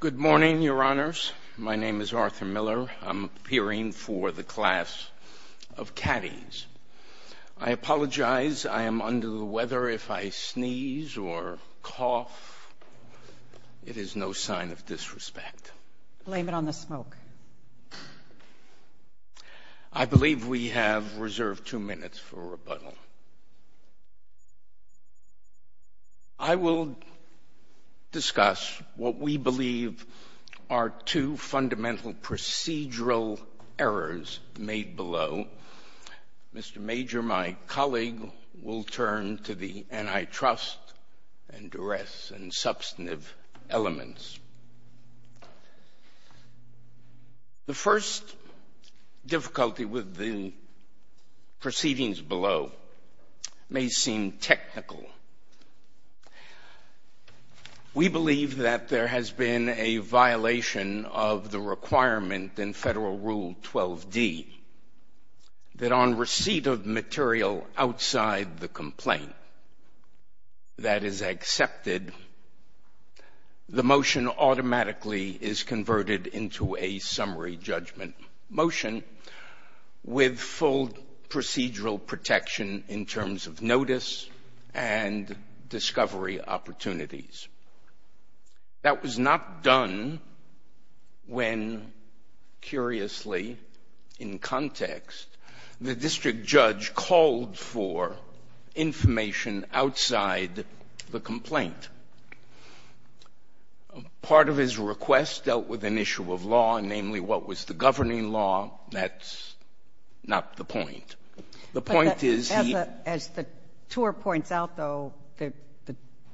Good morning, Your Honors. My name is Arthur Miller. I'm appearing for the class of caddies. I apologize. I am under the weather. If I sneeze or cough, it is no sign of disrespect. Blame it on the smoke. I believe we have reserved two minutes for rebuttal. I will discuss what we believe are two fundamental procedural errors made below. Mr. Major, my colleague, will turn to the antitrust and duress and substantive elements. The first difficulty with the proceedings below may seem technical. We believe that there has been a violation of the requirement in Federal Rule 12d that on receipt of material outside the complaint that is accepted, the motion automatically is converted into a summary judgment motion with full procedural protection in terms of notice and discovery opportunities. That was not done when, curiously, in context, the district judge called for information outside the complaint. Part of his request dealt with an issue of law, namely what was the governing law. That's not the point. The point is he — As the tour points out, though, the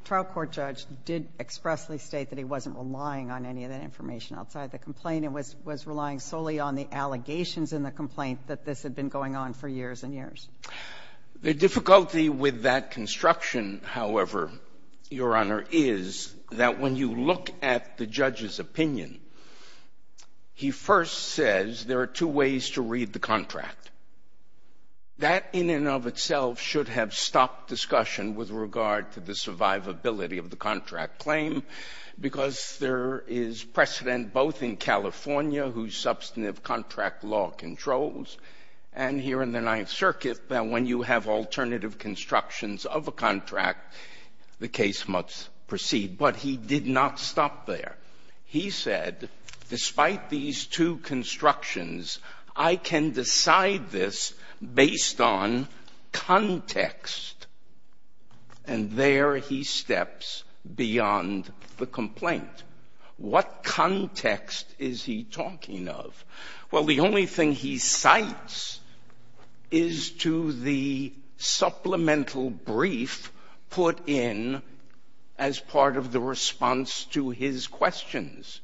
trial court judge did expressly state that he wasn't relying on any of that information outside the complaint. It was relying solely on the allegations in the complaint that this had been going on for years and years. The difficulty with that construction, however, Your Honor, is that when you look at the judge's opinion, he first says there are two ways to read the contract. That in and of itself should have stopped discussion with regard to the survivability of the contract claim because there is precedent both in California, whose substantive contract law controls, and here in the Ninth Circuit that when you have alternative constructions of a contract, the case must proceed. But he did not stop there. He said, despite these two constructions, I can decide this based on context. And there he steps beyond the complaint. What context is he talking of? Well, the only thing he cites is to the supplemental brief put in as part of the response to his questions.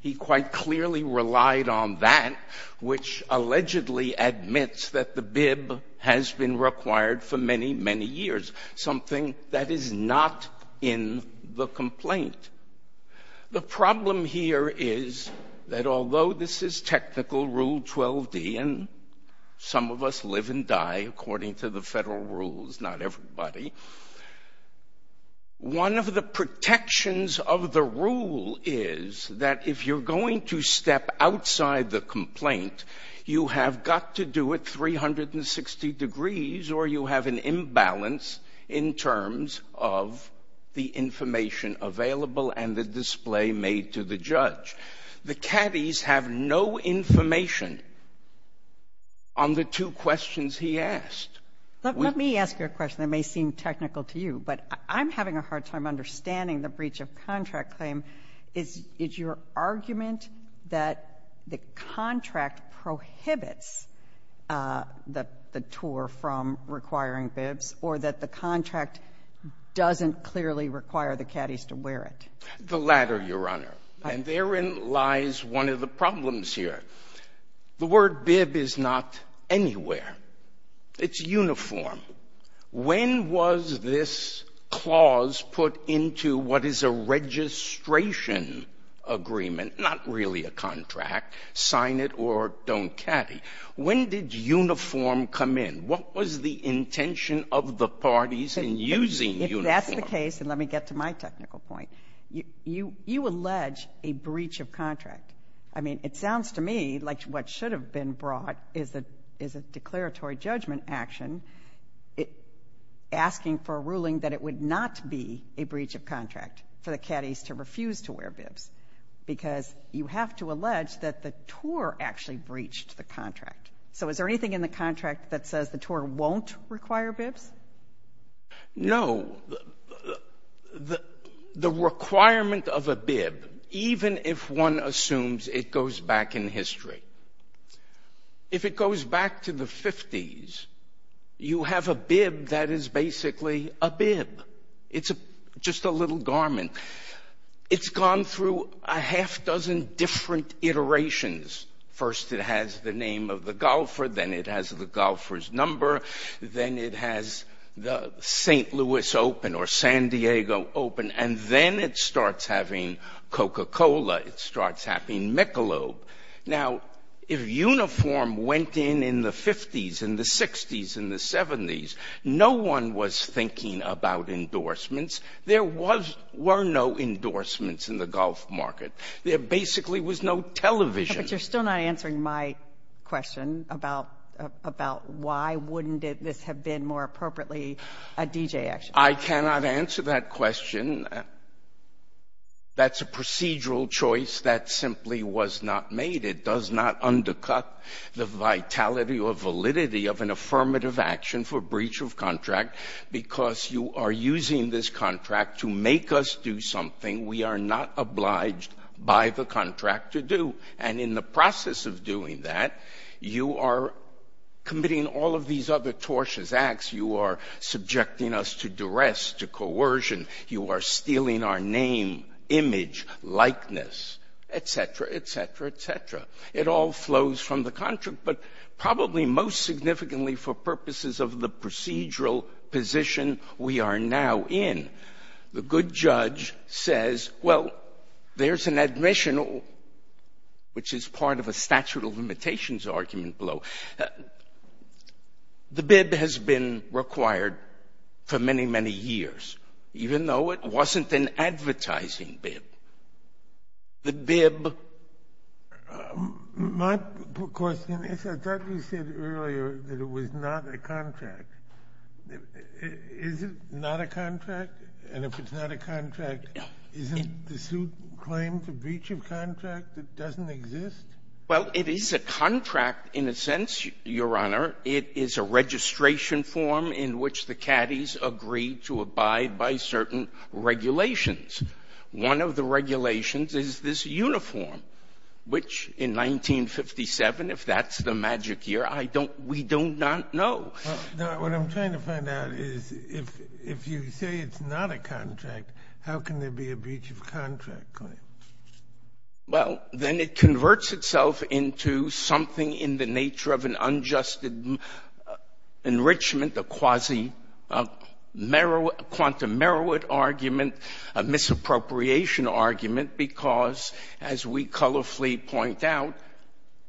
He quite clearly relied on that, which allegedly admits that the bib has been required for many, many years, something that is not in the complaint. The problem here is that although this is technical Rule 12d, and some of us live and die according to the federal rules, not everybody, one of the protections of the rule is that if you're going to step outside the complaint, you have got to do it 360 degrees or you have an imbalance in terms of the information available and the display made to the judge. The caddies have no information on the two questions he asked. Let me ask you a question that may seem technical to you, but I'm having a hard time understanding the breach of contract claim. Is your argument that the contract prohibits the tour from requiring bibs or that the contract doesn't clearly require the caddies to wear it? The latter, Your Honor. And therein lies one of the problems here. The word bib is not anywhere. It's uniform. When was this clause put into what is a registration agreement, not really a contract, sign it or don't caddy? When did uniform come in? What was the intention of the parties in using uniform? If that's the case, and let me get to my technical point, you allege a breach of contract. I mean, it sounds to me like what should have been brought is a declaratory judgment action asking for a ruling that it would not be a breach of contract for the caddies to refuse to wear bibs because you have to allege that the tour actually breached the contract. So is there anything in the contract that says the tour won't require bibs? No. The requirement of a bib, even if one assumes it goes back in history, if it goes back to the 50s, you have a bib that is basically a bib. It's just a little garment. It's gone through a half dozen different iterations. First it has the name of the golfer, then it has the golfer's number, then it has the St. Louis Open or San Diego Open, and then it starts having Coca-Cola, it starts having Michelob. Now, if uniform went in in the 50s and the 60s and the 70s, no one was thinking about endorsements. There were no endorsements in the golf market. There basically was no television. But you're still not answering my question about why wouldn't this have been more appropriately a DJ action? I cannot answer that question. That's a procedural choice that simply was not made. It does not undercut the vitality or validity of an affirmative action for breach of contract because you are using this contract to make us do something we are not obliged by the contract to do. And in the process of doing that, you are committing all of these other tortious acts. You are subjecting us to duress, to coercion. You are stealing our name, image, likeness, etc., etc., etc. It all flows from the contract, but probably most significantly for purposes of the procedural position we are now in. The good judge says, well, there's an admission, which is part of a statute of limitations argument below. The bib has been required for many, many years, even though it wasn't an advertising bib. The bib... My question is, I thought you said earlier that it was not a contract. Is it not a contract? And if it's not a contract, isn't the suit claimed a breach of contract that doesn't exist? Well, it is a contract in a sense, Your Honor. It is a registration form in which the caddies agree to abide by certain regulations. One of the regulations is this uniform, which in 1957, if that's the magic year, we do not know. Now, what I'm trying to find out is, if you say it's not a contract, how can there be a breach of contract claim? Well, then it converts itself into something in the nature of an unjust enrichment, a quasi-quantum merit argument, a misappropriation argument, because, as we colorfully point out,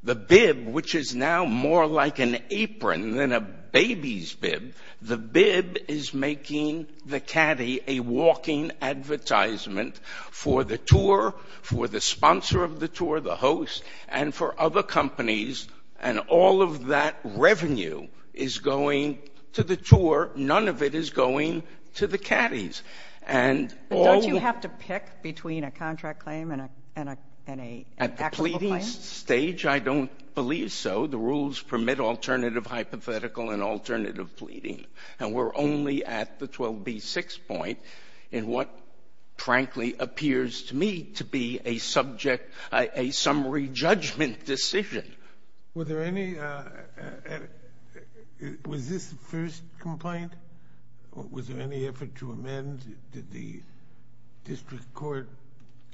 the bib, which is now more like an apron than a baby's bib, the bib is making the caddy a walking advertisement for the tour, for the sponsor of the tour, the host, and for other companies, and all of that revenue is going to the tour. None of it is going to the caddies. But don't you have to pick between a contract claim and an equitable claim? At the pleading stage, I don't believe so. The rules permit alternative hypothetical and alternative pleading, and we're only at the 12b-6 point in what frankly appears to me to be a subject, a summary judgment decision. Was there any — was this the first complaint? Was there any effort to amend? Did the district court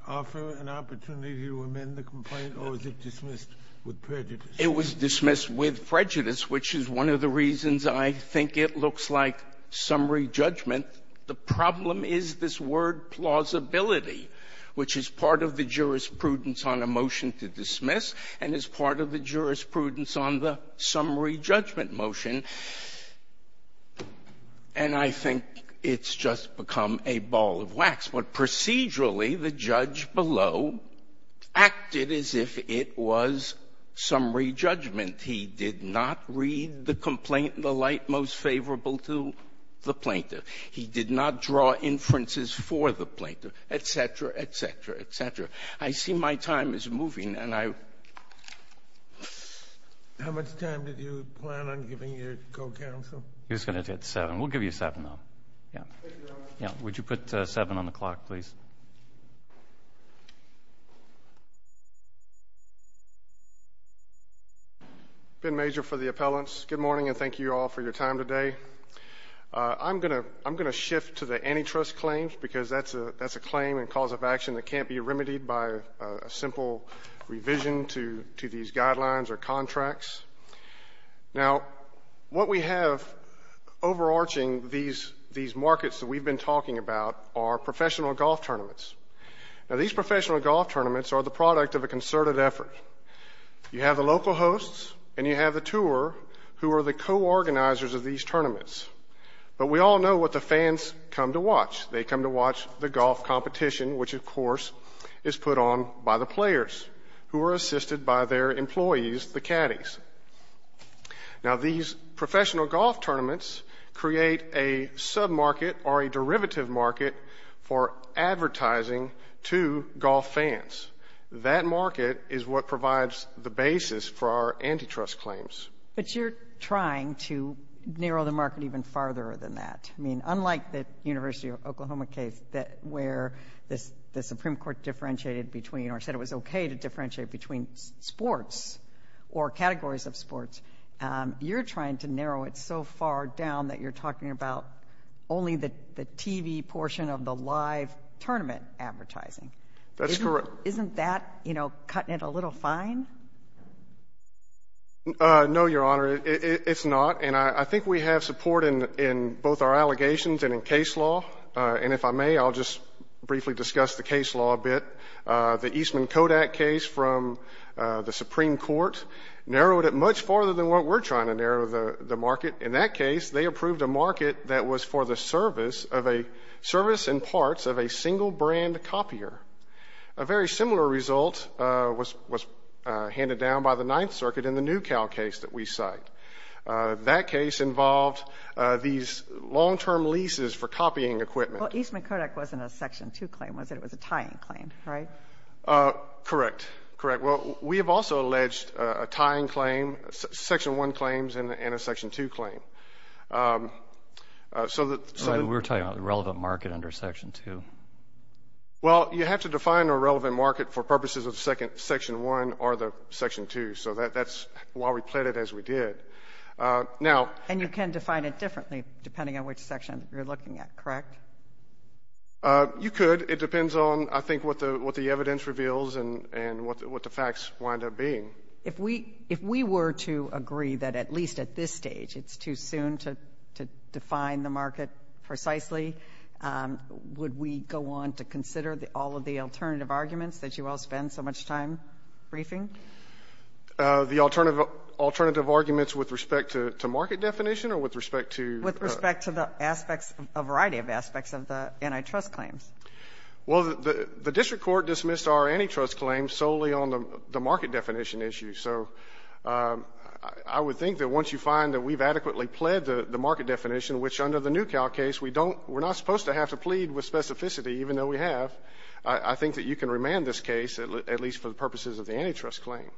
offer an opportunity to amend the complaint, or was it dismissed with prejudice? It was dismissed with prejudice, which is one of the reasons I think it looks like summary judgment. The problem is this word plausibility, which is part of the jurisprudence on a motion to dismiss and is part of the jurisprudence on the summary judgment motion. And I think it's just become a ball of wax. But procedurally, the judge below acted as if it was summary judgment. He did not read the complaint in the light most favorable to the plaintiff. He did not draw inferences for the plaintiff, et cetera, et cetera, et cetera. I see my time is moving, and I — How much time did you plan on giving your co-counsel? He was going to do it at 7. We'll give you 7, though. Would you put 7 on the clock, please? Ben Major for the appellants. Good morning, and thank you all for your time today. I'm going to shift to the antitrust claims because that's a claim and cause of action that can't be remedied by a simple revision to these guidelines or contracts. Now, what we have overarching these markets that we've been talking about are professional golf tournaments. Now, these professional golf tournaments are the product of a concerted effort. You have the local hosts, and you have the tour, who are the co-organizers of these tournaments. But we all know what the fans come to watch. They come to watch the golf competition, which, of course, is put on by the players, who are assisted by their employees, the caddies. Now, these professional golf tournaments create a sub-market or a derivative market for advertising to golf fans. That market is what provides the basis for our antitrust claims. But you're trying to narrow the market even farther than that. I mean, unlike the University of Oklahoma case where the Supreme Court differentiated between or said it was okay to differentiate between sports or categories of sports, you're trying to narrow it so far down that you're talking about only the TV portion of the live tournament advertising. That's correct. Isn't that, you know, cutting it a little fine? No, Your Honor, it's not. And I think we have support in both our allegations and in case law. And if I may, I'll just briefly discuss the case law a bit. The Eastman-Kodak case from the Supreme Court narrowed it much farther than what we're trying to narrow the market. In that case, they approved a market that was for the service and parts of a single-brand copier. A very similar result was handed down by the Ninth Circuit in the New Cal case that we cite. That case involved these long-term leases for copying equipment. Well, Eastman-Kodak wasn't a Section 2 claim, was it? It was a tying claim, right? Correct. Correct. Well, we have also alleged a tying claim, Section 1 claims, and a Section 2 claim. We're talking about the relevant market under Section 2. Well, you have to define a relevant market for purposes of Section 1 or the Section 2. So that's why we played it as we did. And you can define it differently depending on which section you're looking at, correct? You could. It depends on, I think, what the evidence reveals and what the facts wind up being. If we were to agree that at least at this stage it's too soon to define the market precisely, would we go on to consider all of the alternative arguments that you all spend so much time briefing? The alternative arguments with respect to market definition or with respect to? With respect to the aspects, a variety of aspects of the antitrust claims. Well, the district court dismissed our antitrust claims solely on the market definition issue. So I would think that once you find that we've adequately pled the market definition, which under the NewCal case we're not supposed to have to plead with specificity, even though we have, I think that you can remand this case, at least for the purposes of the antitrust claim.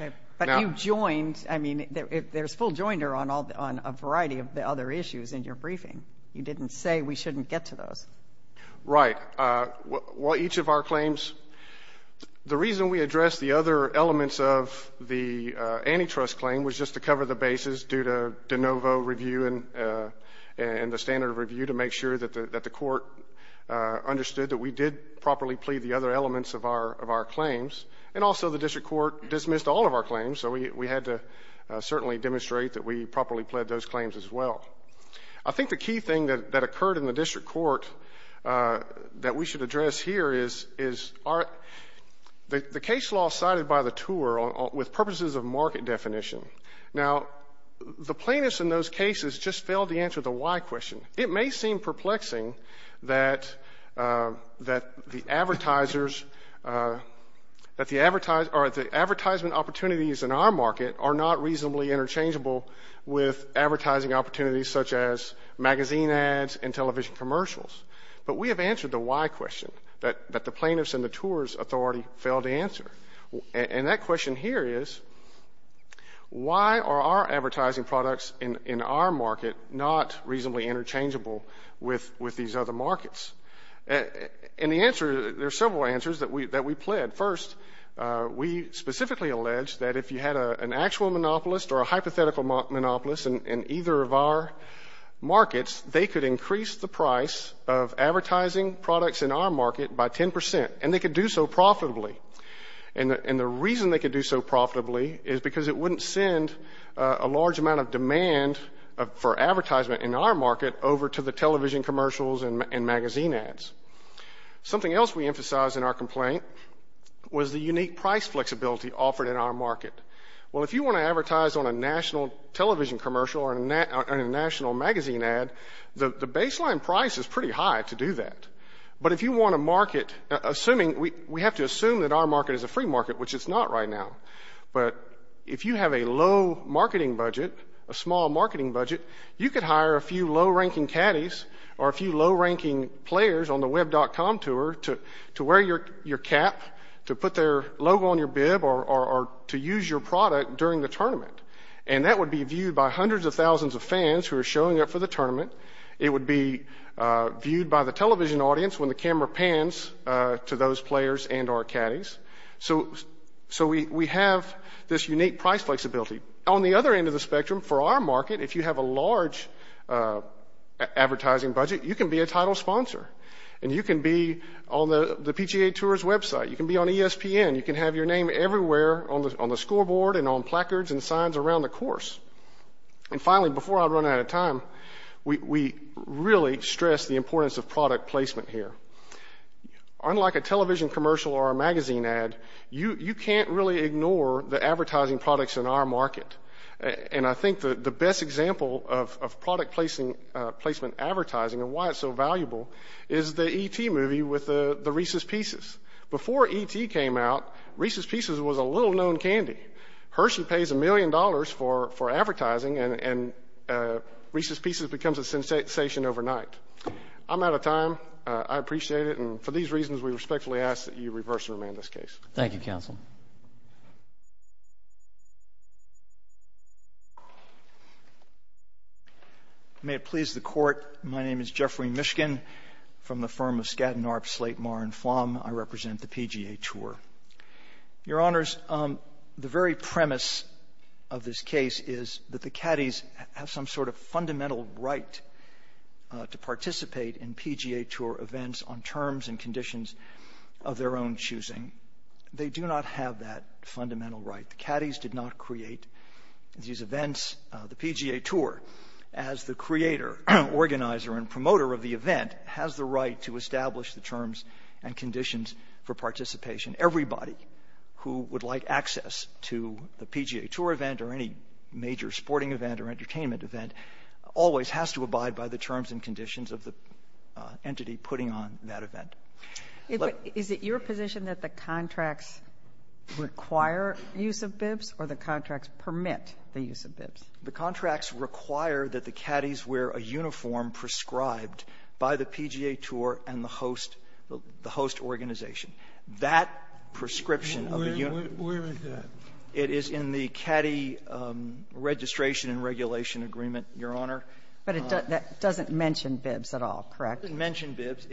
Okay. But you joined. I mean, there's full joinder on a variety of the other issues in your briefing. You didn't say we shouldn't get to those. Right. Well, each of our claims, the reason we addressed the other elements of the antitrust claim was just to cover the bases due to de novo review and the standard of review to make sure that the court understood that we did properly plead the other elements of our claims. And also the district court dismissed all of our claims, so we had to certainly demonstrate that we properly pled those claims as well. I think the key thing that occurred in the district court that we should address here is the case law cited by the tour with purposes of market definition. Now, the plaintiffs in those cases just failed to answer the why question. It may seem perplexing that the advertisers or the advertisement opportunities in our market are not reasonably interchangeable with advertising opportunities such as magazine ads and television commercials. But we have answered the why question that the plaintiffs and the tours authority failed to answer. And that question here is, why are our advertising products in our market not reasonably interchangeable with these other markets? And the answer, there are several answers that we pled. First, we specifically alleged that if you had an actual monopolist or a hypothetical monopolist in either of our markets, they could increase the price of advertising products in our market by 10 percent. And they could do so profitably. And the reason they could do so profitably is because it wouldn't send a large amount of demand for advertisement in our market over to the television commercials and magazine ads. Something else we emphasized in our complaint was the unique price flexibility offered in our market. Well, if you want to advertise on a national television commercial or a national magazine ad, the baseline price is pretty high to do that. But if you want to market, we have to assume that our market is a free market, which it's not right now. But if you have a low marketing budget, a small marketing budget, you could hire a few low-ranking caddies or a few low-ranking players on the web.com tour to wear your cap, to put their logo on your bib, or to use your product during the tournament. And that would be viewed by hundreds of thousands of fans who are showing up for the tournament. It would be viewed by the television audience when the camera pans to those players and our caddies. So we have this unique price flexibility. On the other end of the spectrum, for our market, if you have a large advertising budget, you can be a title sponsor and you can be on the PGA Tours website. You can be on ESPN. You can have your name everywhere on the scoreboard and on placards and signs around the course. And finally, before I run out of time, we really stress the importance of product placement here. Unlike a television commercial or a magazine ad, you can't really ignore the advertising products in our market. And I think the best example of product placement advertising and why it's so valuable is the E.T. movie with the Reese's Pieces. Before E.T. came out, Reese's Pieces was a little-known candy. Hershey pays a million dollars for advertising, and Reese's Pieces becomes a sensation overnight. I'm out of time. I appreciate it. And for these reasons, we respectfully ask that you reverse and remand this case. Thank you, Counsel. May it please the Court, my name is Jeffrey Mishkin from the firm of Skadden, Arp, Slate, Marr & Flom. I represent the PGA Tour. Your Honors, the very premise of this case is that the caddies have some sort of fundamental right to participate in PGA Tour events on terms and conditions of their own choosing. They do not have that fundamental right. The caddies did not create these events. The PGA Tour, as the creator, organizer, and promoter of the event, has the right to establish the terms and conditions for participation. Everybody who would like access to the PGA Tour event or any major sporting event or entertainment event always has to abide by the terms and conditions of the entity putting on that event. Is it your position that the contracts require use of bibs or the contracts permit the use of bibs? The contracts require that the caddies wear a uniform prescribed by the PGA Tour and the host organization. That prescription of a uniform Where is that? It is in the caddy registration and regulation agreement, Your Honor. But it doesn't mention bibs at all, correct? It doesn't mention bibs.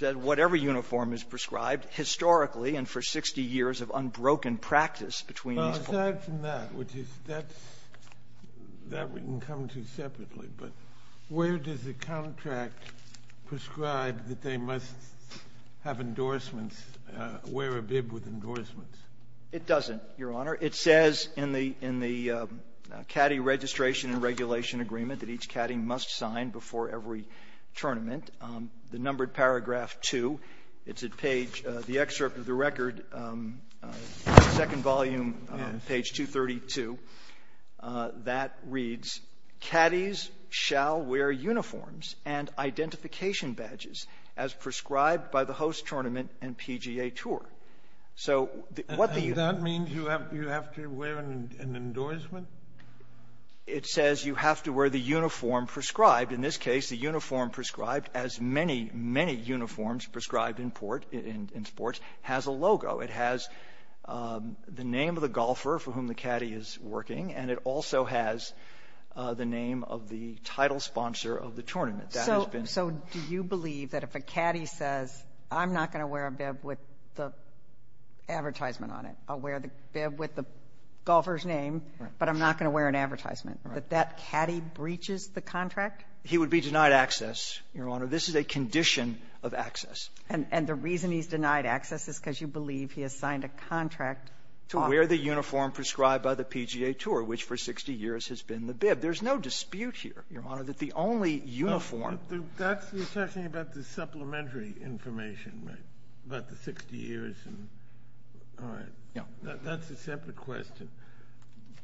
Whatever uniform is prescribed historically and for 60 years of unbroken practice between these four. Aside from that, which is that we can come to separately, but where does the contract prescribe that they must have endorsements, wear a bib with endorsements? It doesn't, Your Honor. It says in the caddy registration and regulation agreement that each caddy must sign before every tournament. The numbered paragraph 2, it's at page the excerpt of the record, second volume, page 232. That reads, caddies shall wear uniforms and identification badges as prescribed by the host tournament and PGA Tour. Does that mean you have to wear an endorsement? It says you have to wear the uniform prescribed. In this case, the uniform prescribed, as many, many uniforms prescribed in sports, has a logo. It has the name of the golfer for whom the caddy is working, and it also has the name of the title sponsor of the tournament. So do you believe that if a caddy says, I'm not going to wear a bib with the advertisement on it, I'll wear the bib with the golfer's name, but I'm not going to wear an advertisement, that that caddy breaches the contract? He would be denied access, Your Honor. This is a condition of access. And the reason he's denied access is because you believe he has signed a contract to wear the uniform prescribed by the PGA Tour, which for 60 years has been the bib. There's no dispute here, Your Honor, that the only uniform— You're talking about the supplementary information, right? About the 60 years. All right. That's a separate question.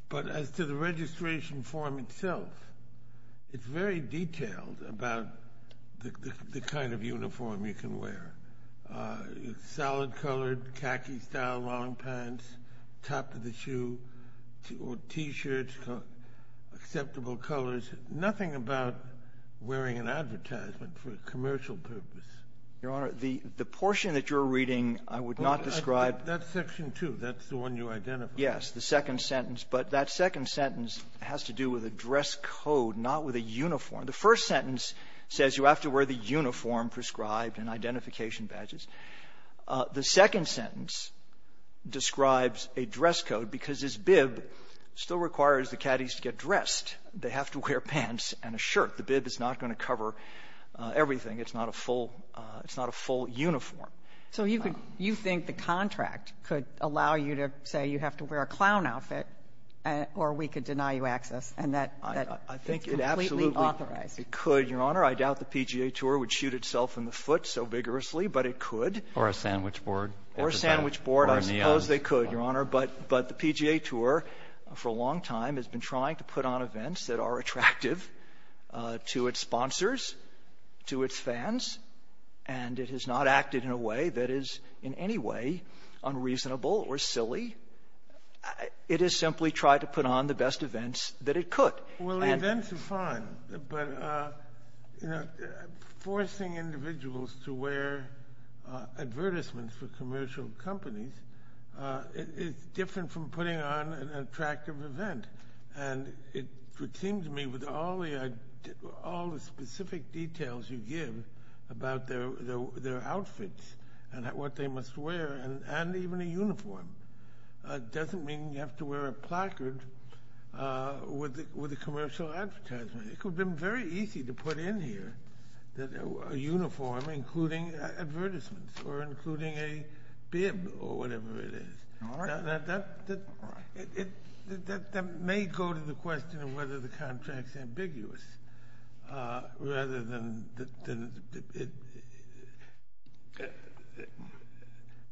But as to the registration form itself, it's very detailed about the kind of uniform you can wear. It's solid-colored, khaki-style long pants, top of the shoe, T-shirts, acceptable colors, nothing about wearing an advertisement for a commercial purpose. Your Honor, the portion that you're reading, I would not describe— That's Section 2. That's the one you identified. Yes, the second sentence. But that second sentence has to do with a dress code, not with a uniform. The first sentence says you have to wear the uniform prescribed and identification badges. The second sentence describes a dress code because this bib still requires the caddies to get dressed. They have to wear pants and a shirt. The bib is not going to cover everything. It's not a full uniform. So you think the contract could allow you to say you have to wear a clown outfit, or we could deny you access, and that's completely authoritative? It could, Your Honor. I doubt the PGA Tour would shoot itself in the foot so vigorously, but it could. Or a sandwich board. Or a sandwich board. I suppose they could, Your Honor. But the PGA Tour, for a long time, has been trying to put on events that are attractive to its sponsors, to its fans, and it has not acted in a way that is in any way unreasonable or silly. It has simply tried to put on the best events that it could. Well, events are fine, but forcing individuals to wear advertisements for commercial companies is different from putting on an attractive event. It would seem to me with all the specific details you give about their outfits and what they must wear, and even a uniform, it doesn't mean you have to wear a placard with a commercial advertisement. It could have been very easy to put in here a uniform, including advertisements, or including a bib, or whatever it is. All right. Now, that may go to the question of whether the contract is ambiguous, rather than...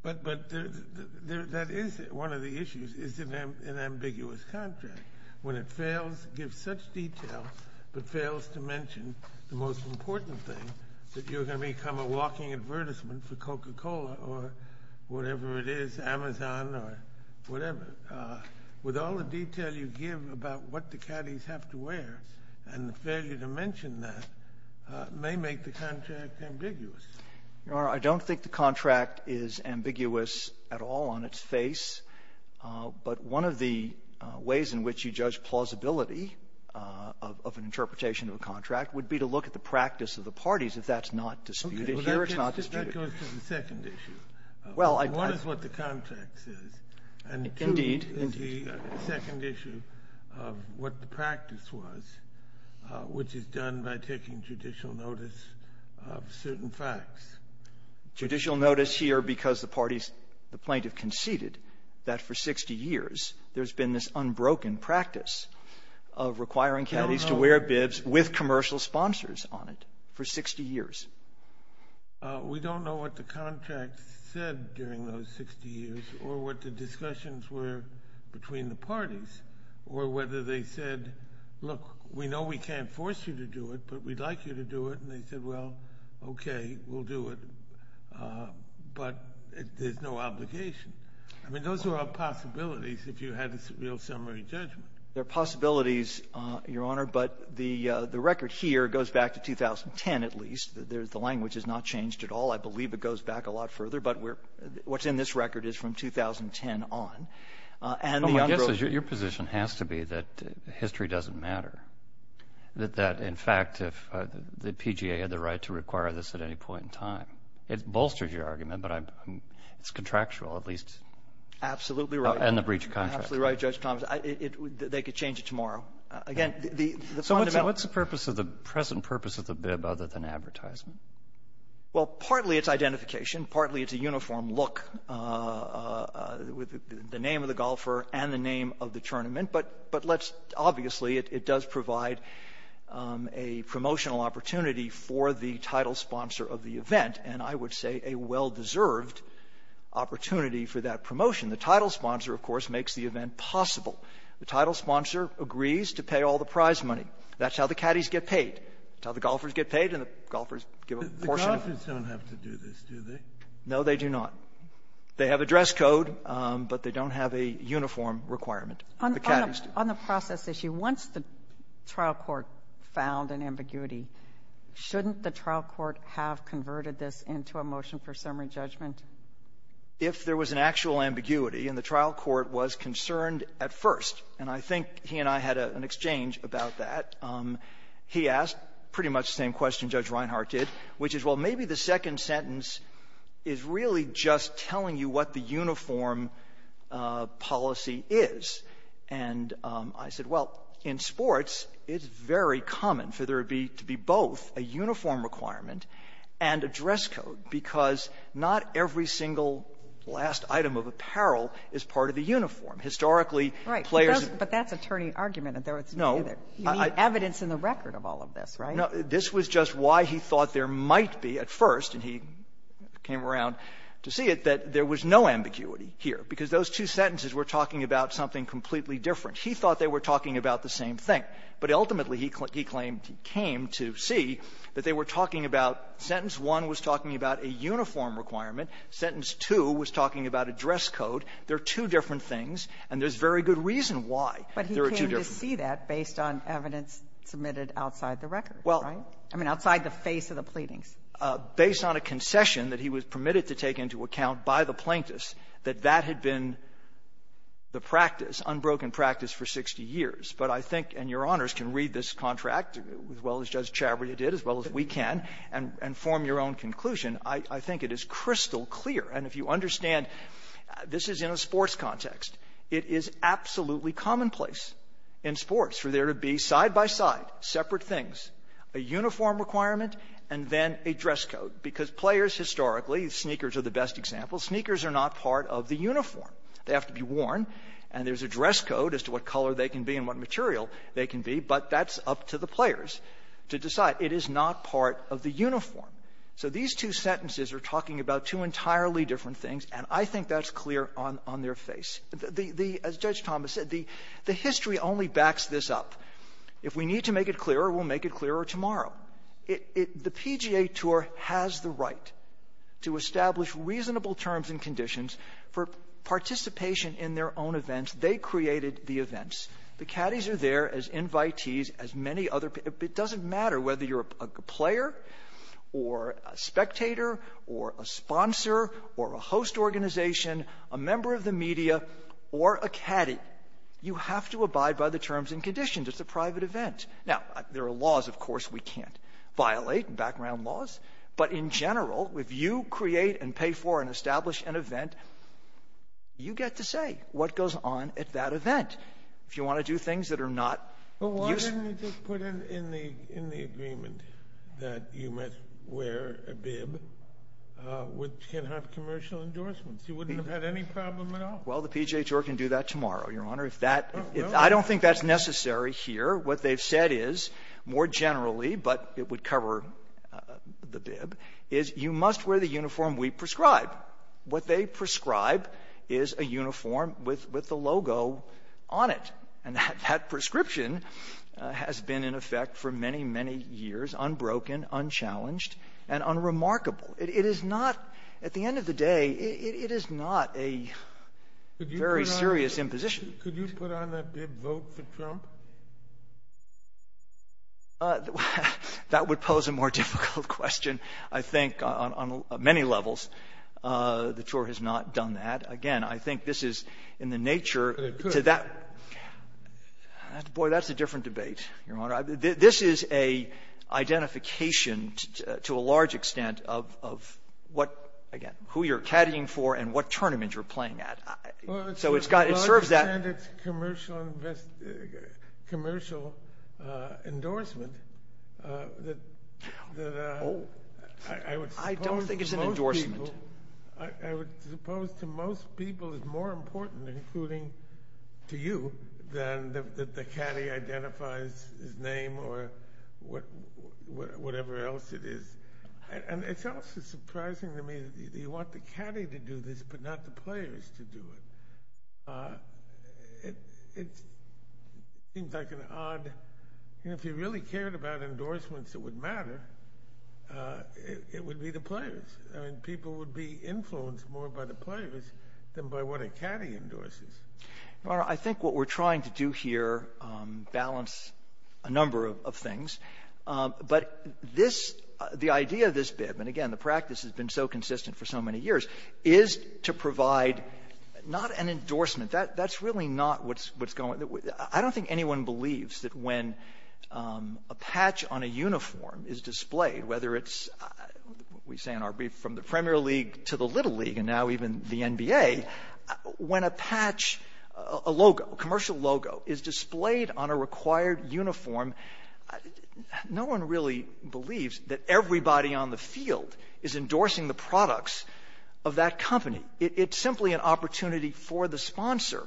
But that is one of the issues, is it an ambiguous contract? When it fails to give such detail, but fails to mention the most important thing, that you're going to become a walking advertisement for Coca-Cola, or whatever it is, Amazon, or whatever. With all the detail you give about what the caddies have to wear, and the failure to mention that, may make the contract ambiguous. Your Honor, I don't think the contract is ambiguous at all on its face. But one of the ways in which you judge plausibility of an interpretation of a contract would be to look at the practice of the parties, if that's not disputed. Here, it's not disputed. Okay. But that goes to the second issue. Well, I... One is what the contract says. Indeed. And two is the second issue of what the practice was, which is done by taking judicial notice of certain facts. Judicial notice here, because the parties, the plaintiff conceded that for 60 years, there's been this unbroken practice of requiring caddies to wear bibs with commercial sponsors on it, for 60 years. We don't know what the contract said during those 60 years, or what the discussions were between the parties, or whether they said, look, we know we can't force you to do it, but we'd like you to do it. And they said, well, okay, we'll do it. But there's no obligation. I mean, those are all possibilities if you had a real summary judgment. They're possibilities, Your Honor. But the record here goes back to 2010, at least. The language has not changed at all. I believe it goes back a lot further. But what's in this record is from 2010 on. Well, my guess is your position has to be that history doesn't matter. That, in fact, if the PGA had the right to require this at any point in time. It bolsters your argument, but it's contractual, at least. Absolutely right. And the breach of contract. Absolutely right, Judge Thomas. They could change it tomorrow. So what's the present purpose of the bib other than advertisement? Well, partly it's identification. Partly it's a uniform look with the name of the golfer and the name of the tournament. But let's obviously, it does provide a promotional opportunity for the title sponsor of the event, and I would say a well-deserved opportunity for that promotion. The title sponsor, of course, makes the event possible. The title sponsor agrees to pay all the prize money. That's how the caddies get paid. That's how the golfers get paid, and the golfers give a portion of it. The golfers don't have to do this, do they? No, they do not. They have a dress code, but they don't have a uniform requirement. The caddies do. On the process issue, once the trial court found an ambiguity, shouldn't the trial court have converted this into a motion for summary judgment? If there was an actual ambiguity and the trial court was concerned at first, and I think he and I had an exchange about that, he asked pretty much the same question Judge Reinhart did, which is, well, maybe the second sentence is really just telling you what the uniform policy is. And I said, well, in sports, it's very common for there to be both a uniform requirement and a dress code, because not every single last item of apparel is part of the uniform. And I don't think there was any argument that there was neither. No. You need evidence in the record of all of this, right? No. This was just why he thought there might be, at first, and he came around to see it, that there was no ambiguity here, because those two sentences were talking about something completely different. He thought they were talking about the same thing, but ultimately, he claimed he came to see that they were talking about sentence one was talking about a uniform requirement, sentence two was talking about a dress code. They're two different things, and there's very good reason why. But he came to see that based on evidence submitted outside the record, right? I mean, outside the face of the pleadings. Based on a concession that he was permitted to take into account by the plaintiffs, that that had been the practice, unbroken practice, for 60 years. But I think, and Your Honors can read this contract, as well as Judge Chabria did, as well as we can, and form your own conclusion. I think it is crystal clear. And if you understand, this is in a sports context. It is absolutely commonplace in sports for there to be, side by side, separate things, a uniform requirement, and then a dress code, because players, historically the sneakers are the best example. Sneakers are not part of the uniform. They have to be worn, and there's a dress code as to what color they can be and what material they can be, but that's up to the players to decide. It is not part of the uniform. So these two sentences are talking about two entirely different things, and I think that's clear on their face. The as Judge Thomas said, the history only backs this up. If we need to make it clearer, we'll make it clearer tomorrow. The PGA Tour has the right to establish reasonable terms and conditions for participation in their own events. They created the events. The caddies are there as invitees, as many other people. It doesn't matter whether you're a player, or a spectator, or a sponsor, or a host organization, a member of the media, or a caddy, you have to abide by the terms and conditions. It's a private event. Now, there are laws, of course, we can't violate, background laws, but in general, if you create and pay for and establish an event, you get to say what goes on at that event. If you want to do things that are not useful. Sotomayor, why didn't they just put in the agreement that you must wear a bib which can have commercial endorsements? You wouldn't have had any problem at all? Well, the PGA Tour can do that tomorrow, Your Honor. Oh, no? I don't think that's necessary here. What they've said is, more generally, but it would cover the bib, is you must wear the uniform we prescribe. What they prescribe is a uniform with the logo on it. And that prescription has been in effect for many, many years, unbroken, unchallenged, and unremarkable. It is not, at the end of the day, it is not a very serious imposition. Could you put on that bib, vote for Trump? That would pose a more difficult question, I think, on many levels. The Tour has not done that. Again, I think this is in the nature to that. Boy, that's a different debate, Your Honor. This is an identification, to a large extent, of what, again, who you're caddying for and what tournament you're playing at. So it's got, it serves that. Well, to a large extent, it's a commercial endorsement that I would suppose to most people is more important, including to you, than that the caddy identifies his name or whatever else it is. And it's also surprising to me that you want the caddy to do this, but not the players to do it. It seems like an odd, you know, if you really cared about endorsements, it would matter. It would be the players. I mean, people would be influenced more by the players than by what a caddy endorses. Your Honor, I think what we're trying to do here, balance a number of things. But this, the idea of this bib, and again, the practice has been so consistent for so many years, is to provide not an endorsement. That's really not what's going, I don't think anyone believes that when a patch on a uniform is displayed, whether it's, we say in our brief, from the Premier League to the Little League and now even the NBA, when a patch, a logo, commercial logo, is displayed on a required uniform, no one really believes that everybody on the field is endorsing the products of that company. It's simply an opportunity for the sponsor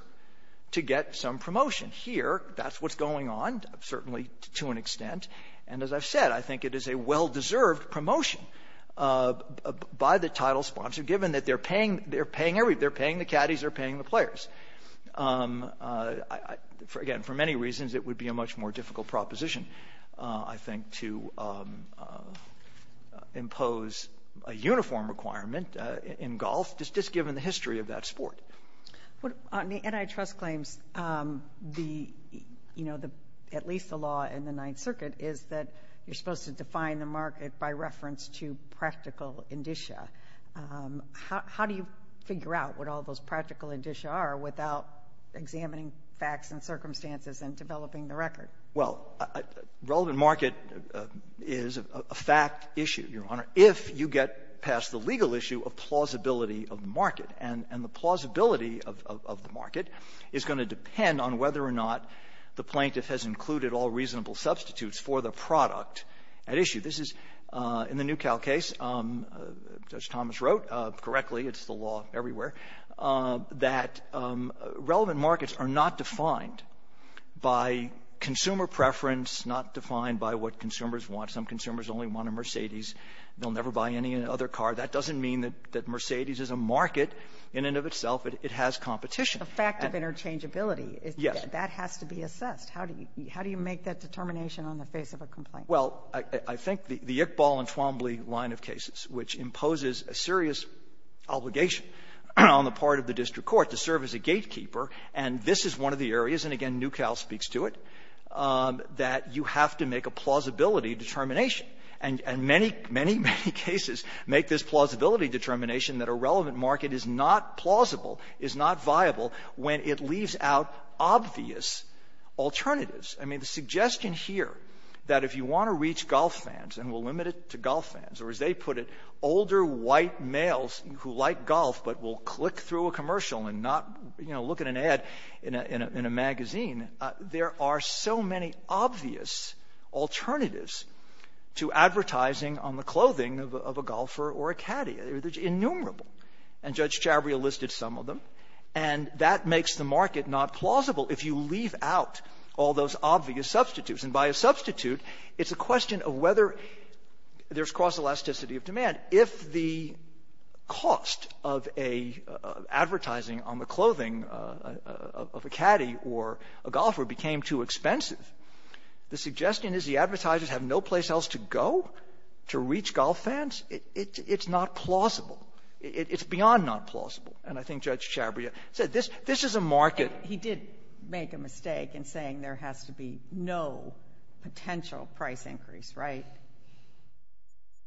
to get some promotion. Here, that's what's going on, certainly to an extent. And as I've said, I think it is a well-deserved promotion by the title sponsor, given that they're paying the caddies, they're paying the players. Again, for many reasons, it would be a much more difficult proposition, I think, to impose a uniform requirement in golf, just given the history of that sport. On the antitrust claims, the, you know, at least the law in the Ninth Circuit is that you're supposed to define the market by reference to practical indicia. How do you figure out what all those practical indicia are without examining facts and circumstances and developing the record? Well, relevant market is a fact issue, Your Honor, if you get past the legal issue of the plausibility of the market. And the plausibility of the market is going to depend on whether or not the plaintiff has included all reasonable substitutes for the product at issue. This is, in the Newcal case, as Thomas wrote correctly, it's the law everywhere, that relevant markets are not defined by consumer preference, not defined by what consumers want. Some consumers only want a Mercedes. They'll never buy any other car. That doesn't mean that Mercedes is a market in and of itself. It has competition. A fact of interchangeability. Yes. That has to be assessed. How do you make that determination on the face of a complaint? Well, I think the Iqbal and Twombly line of cases, which imposes a serious obligation on the part of the district court to serve as a gatekeeper, and this is one of the areas, and again, Newcal speaks to it, that you have to make a plausibility determination. And many, many, many cases make this plausibility determination that a relevant market is not plausible, is not viable when it leaves out obvious alternatives. I mean, the suggestion here that if you want to reach golf fans and will limit it to golf fans, or as they put it, older white males who like golf but will click through a commercial and not, you know, look at an ad in a magazine, there are so many obvious alternatives to advertising on the clothing of a golfer or a caddy. They're innumerable. And Judge Chabria listed some of them. And that makes the market not plausible if you leave out all those obvious substitutes. And by a substitute, it's a question of whether there's cross-elasticity of demand. If the cost of a advertising on the clothing of a caddy or a golfer became too expensive, the suggestion is the advertisers have no place else to go to reach golf fans. It's not plausible. It's beyond not plausible. And I think Judge Chabria said this is a market ---- And he did make a mistake in saying there has to be no potential price increase, right?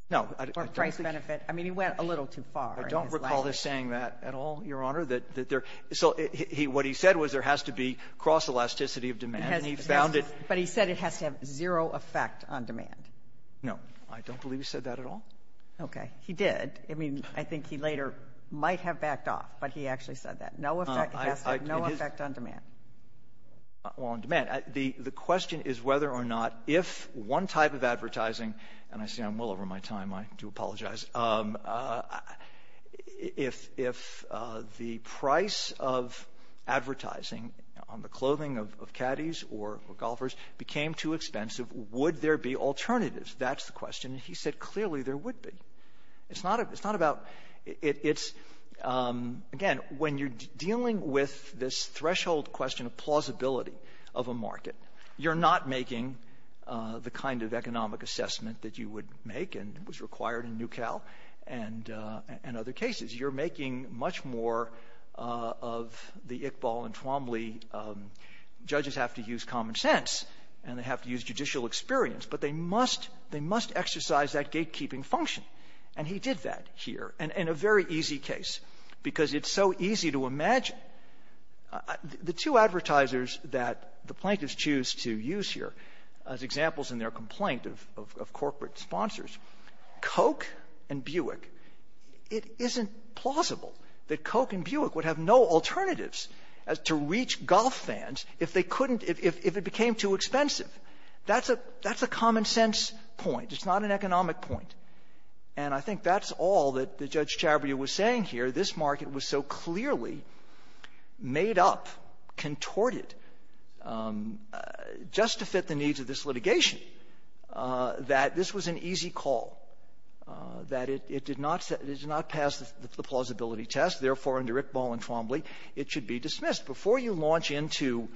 No. Or price benefit. I mean, he went a little too far in his language. I don't recall this saying that at all, Your Honor, that there ---- so what he said was there has to be cross-elasticity of demand. But he said it has to have zero effect on demand. No. I don't believe he said that at all. Okay. He did. I mean, I think he later might have backed off, but he actually said that. No effect, it has to have no effect on demand. Well, on demand. The question is whether or not if one type of advertising, and I see I'm well over my time, I do apologize, if the price of advertising on the clothing of caddies or golfers became too expensive, would there be alternatives? That's the question. And he said clearly there would be. It's not about ---- it's, again, when you're dealing with this threshold question of plausibility of a market, you're not making the kind of economic assessment that you would make and was required in Newcal and other cases. You're making much more of the Iqbal and Twombly, judges have to use common sense and they have to use judicial experience, but they must exercise that gatekeeping function. And he did that here in a very easy case because it's so easy to imagine. The two advertisers that the plaintiffs choose to use here as examples in their complaint of corporate sponsors, Coke and Buick, it isn't plausible that Coke and Buick would have no alternatives to reach golf fans if they couldn't, if it became too expensive. That's a common sense point. It's not an economic point. And I think that's all that Judge Chabria was saying here. This market was so clearly made up, contorted, just to fit the needs of this litigation. That this was an easy call, that it did not pass the plausibility test. Therefore, under Iqbal and Twombly, it should be dismissed. Before you launch into,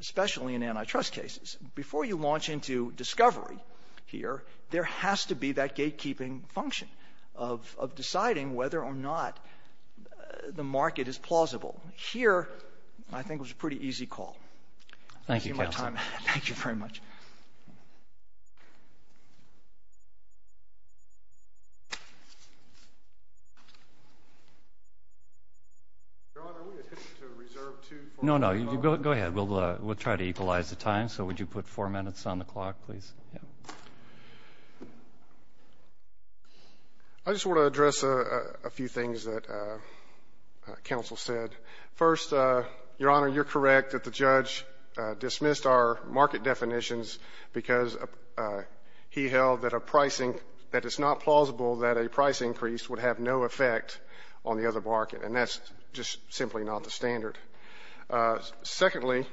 especially in antitrust cases, before you launch into discovery here, there has to be that gatekeeping function of deciding whether or not the market is plausible. Here, I think it was a pretty easy call. Thank you, counsel. I've seen my time. Thank you very much. Your Honor, are we adhesive to reserve 2.5 hours? No, no. Go ahead. We'll try to equalize the time. So would you put 4 minutes on the clock, please? I just want to address a few things that counsel said. First, Your Honor, you're correct that the judge dismissed our market definitions because he held that a pricing, that it's not plausible that a price increase would have no effect on the other market. And that's just simply not the standard. Secondly,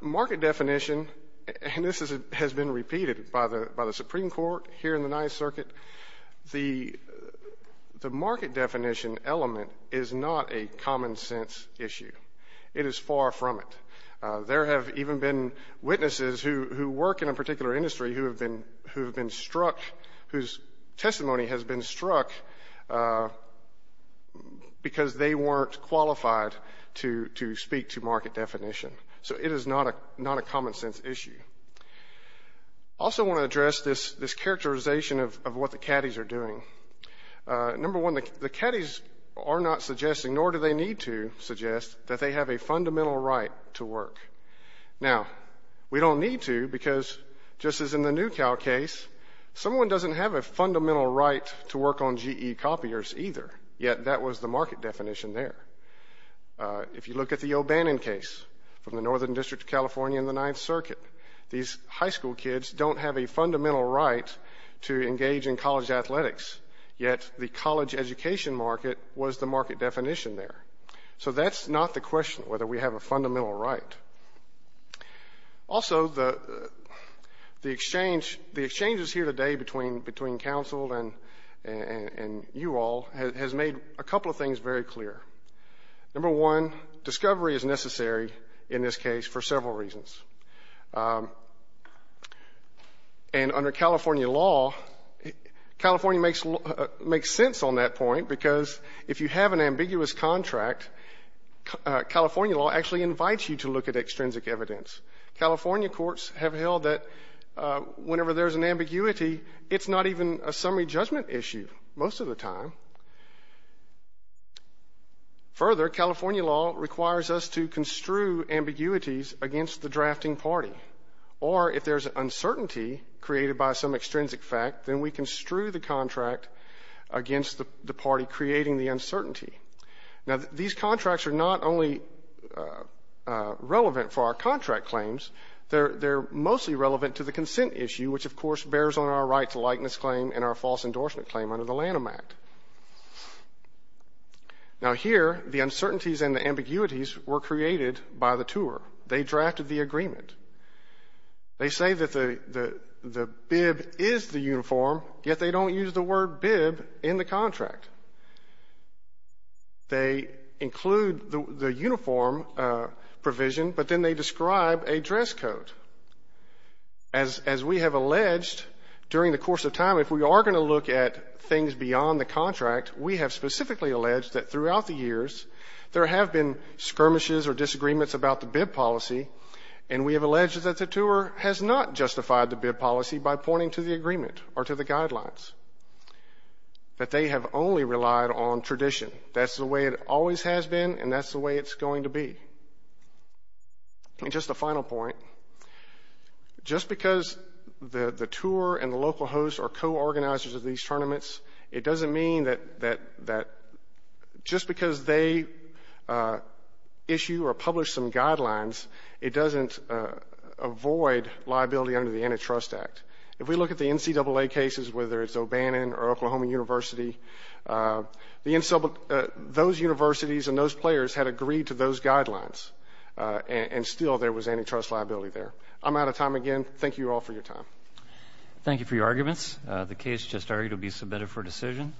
market definition, and this has been repeated by the Supreme Court here in common sense issue. It is far from it. There have even been witnesses who work in a particular industry who have been struck, whose testimony has been struck because they weren't qualified to speak to market definition. So it is not a common sense issue. Also want to address this characterization of what the caddies are doing. Number one, the caddies are not suggesting, nor do they need to suggest, that they have a fundamental right to work. Now, we don't need to because just as in the NewCal case, someone doesn't have a fundamental right to work on GE copiers either, yet that was the market definition there. If you look at the O'Bannon case from the Northern District of California in the Ninth District, yet the college education market was the market definition there. So that's not the question whether we have a fundamental right. Also, the exchanges here today between counsel and you all has made a couple of things very clear. Number one, discovery is necessary in this case for several reasons. And under California law, California makes sense on that point because if you have an ambiguous contract, California law actually invites you to look at extrinsic evidence. California courts have held that whenever there's an ambiguity, it's not even a summary judgment issue most of the time. Further, California law requires us to construe ambiguities against the drafting party or if there's uncertainty created by some extrinsic fact, then we construe the contract against the party creating the uncertainty. Now, these contracts are not only relevant for our contract claims, they're mostly relevant to the consent issue, which of course bears on our right to likeness claim and our false Now, here, the uncertainties and the ambiguities were created by the tour. They drafted the agreement. They say that the bib is the uniform, yet they don't use the word bib in the contract. They include the uniform provision, but then they describe a dress code. As we have alleged during the course of time, if we are going to look at things beyond the contract, we have specifically alleged that throughout the years, there have been skirmishes or disagreements about the bib policy, and we have alleged that the tour has not justified the bib policy by pointing to the agreement or to the guidelines, that they have only relied on tradition. That's the way it always has been, and that's the way it's going to be. And just a final point, just because the tour and the local host are co-organizers of these hearings, doesn't mean that just because they issue or publish some guidelines, it doesn't avoid liability under the Antitrust Act. If we look at the NCAA cases, whether it's O'Bannon or Oklahoma University, those universities and those players had agreed to those guidelines, and still there was antitrust liability there. I'm out of time again. Thank you all for your time. Thank you for your arguments. The case just argued to be submitted for decision.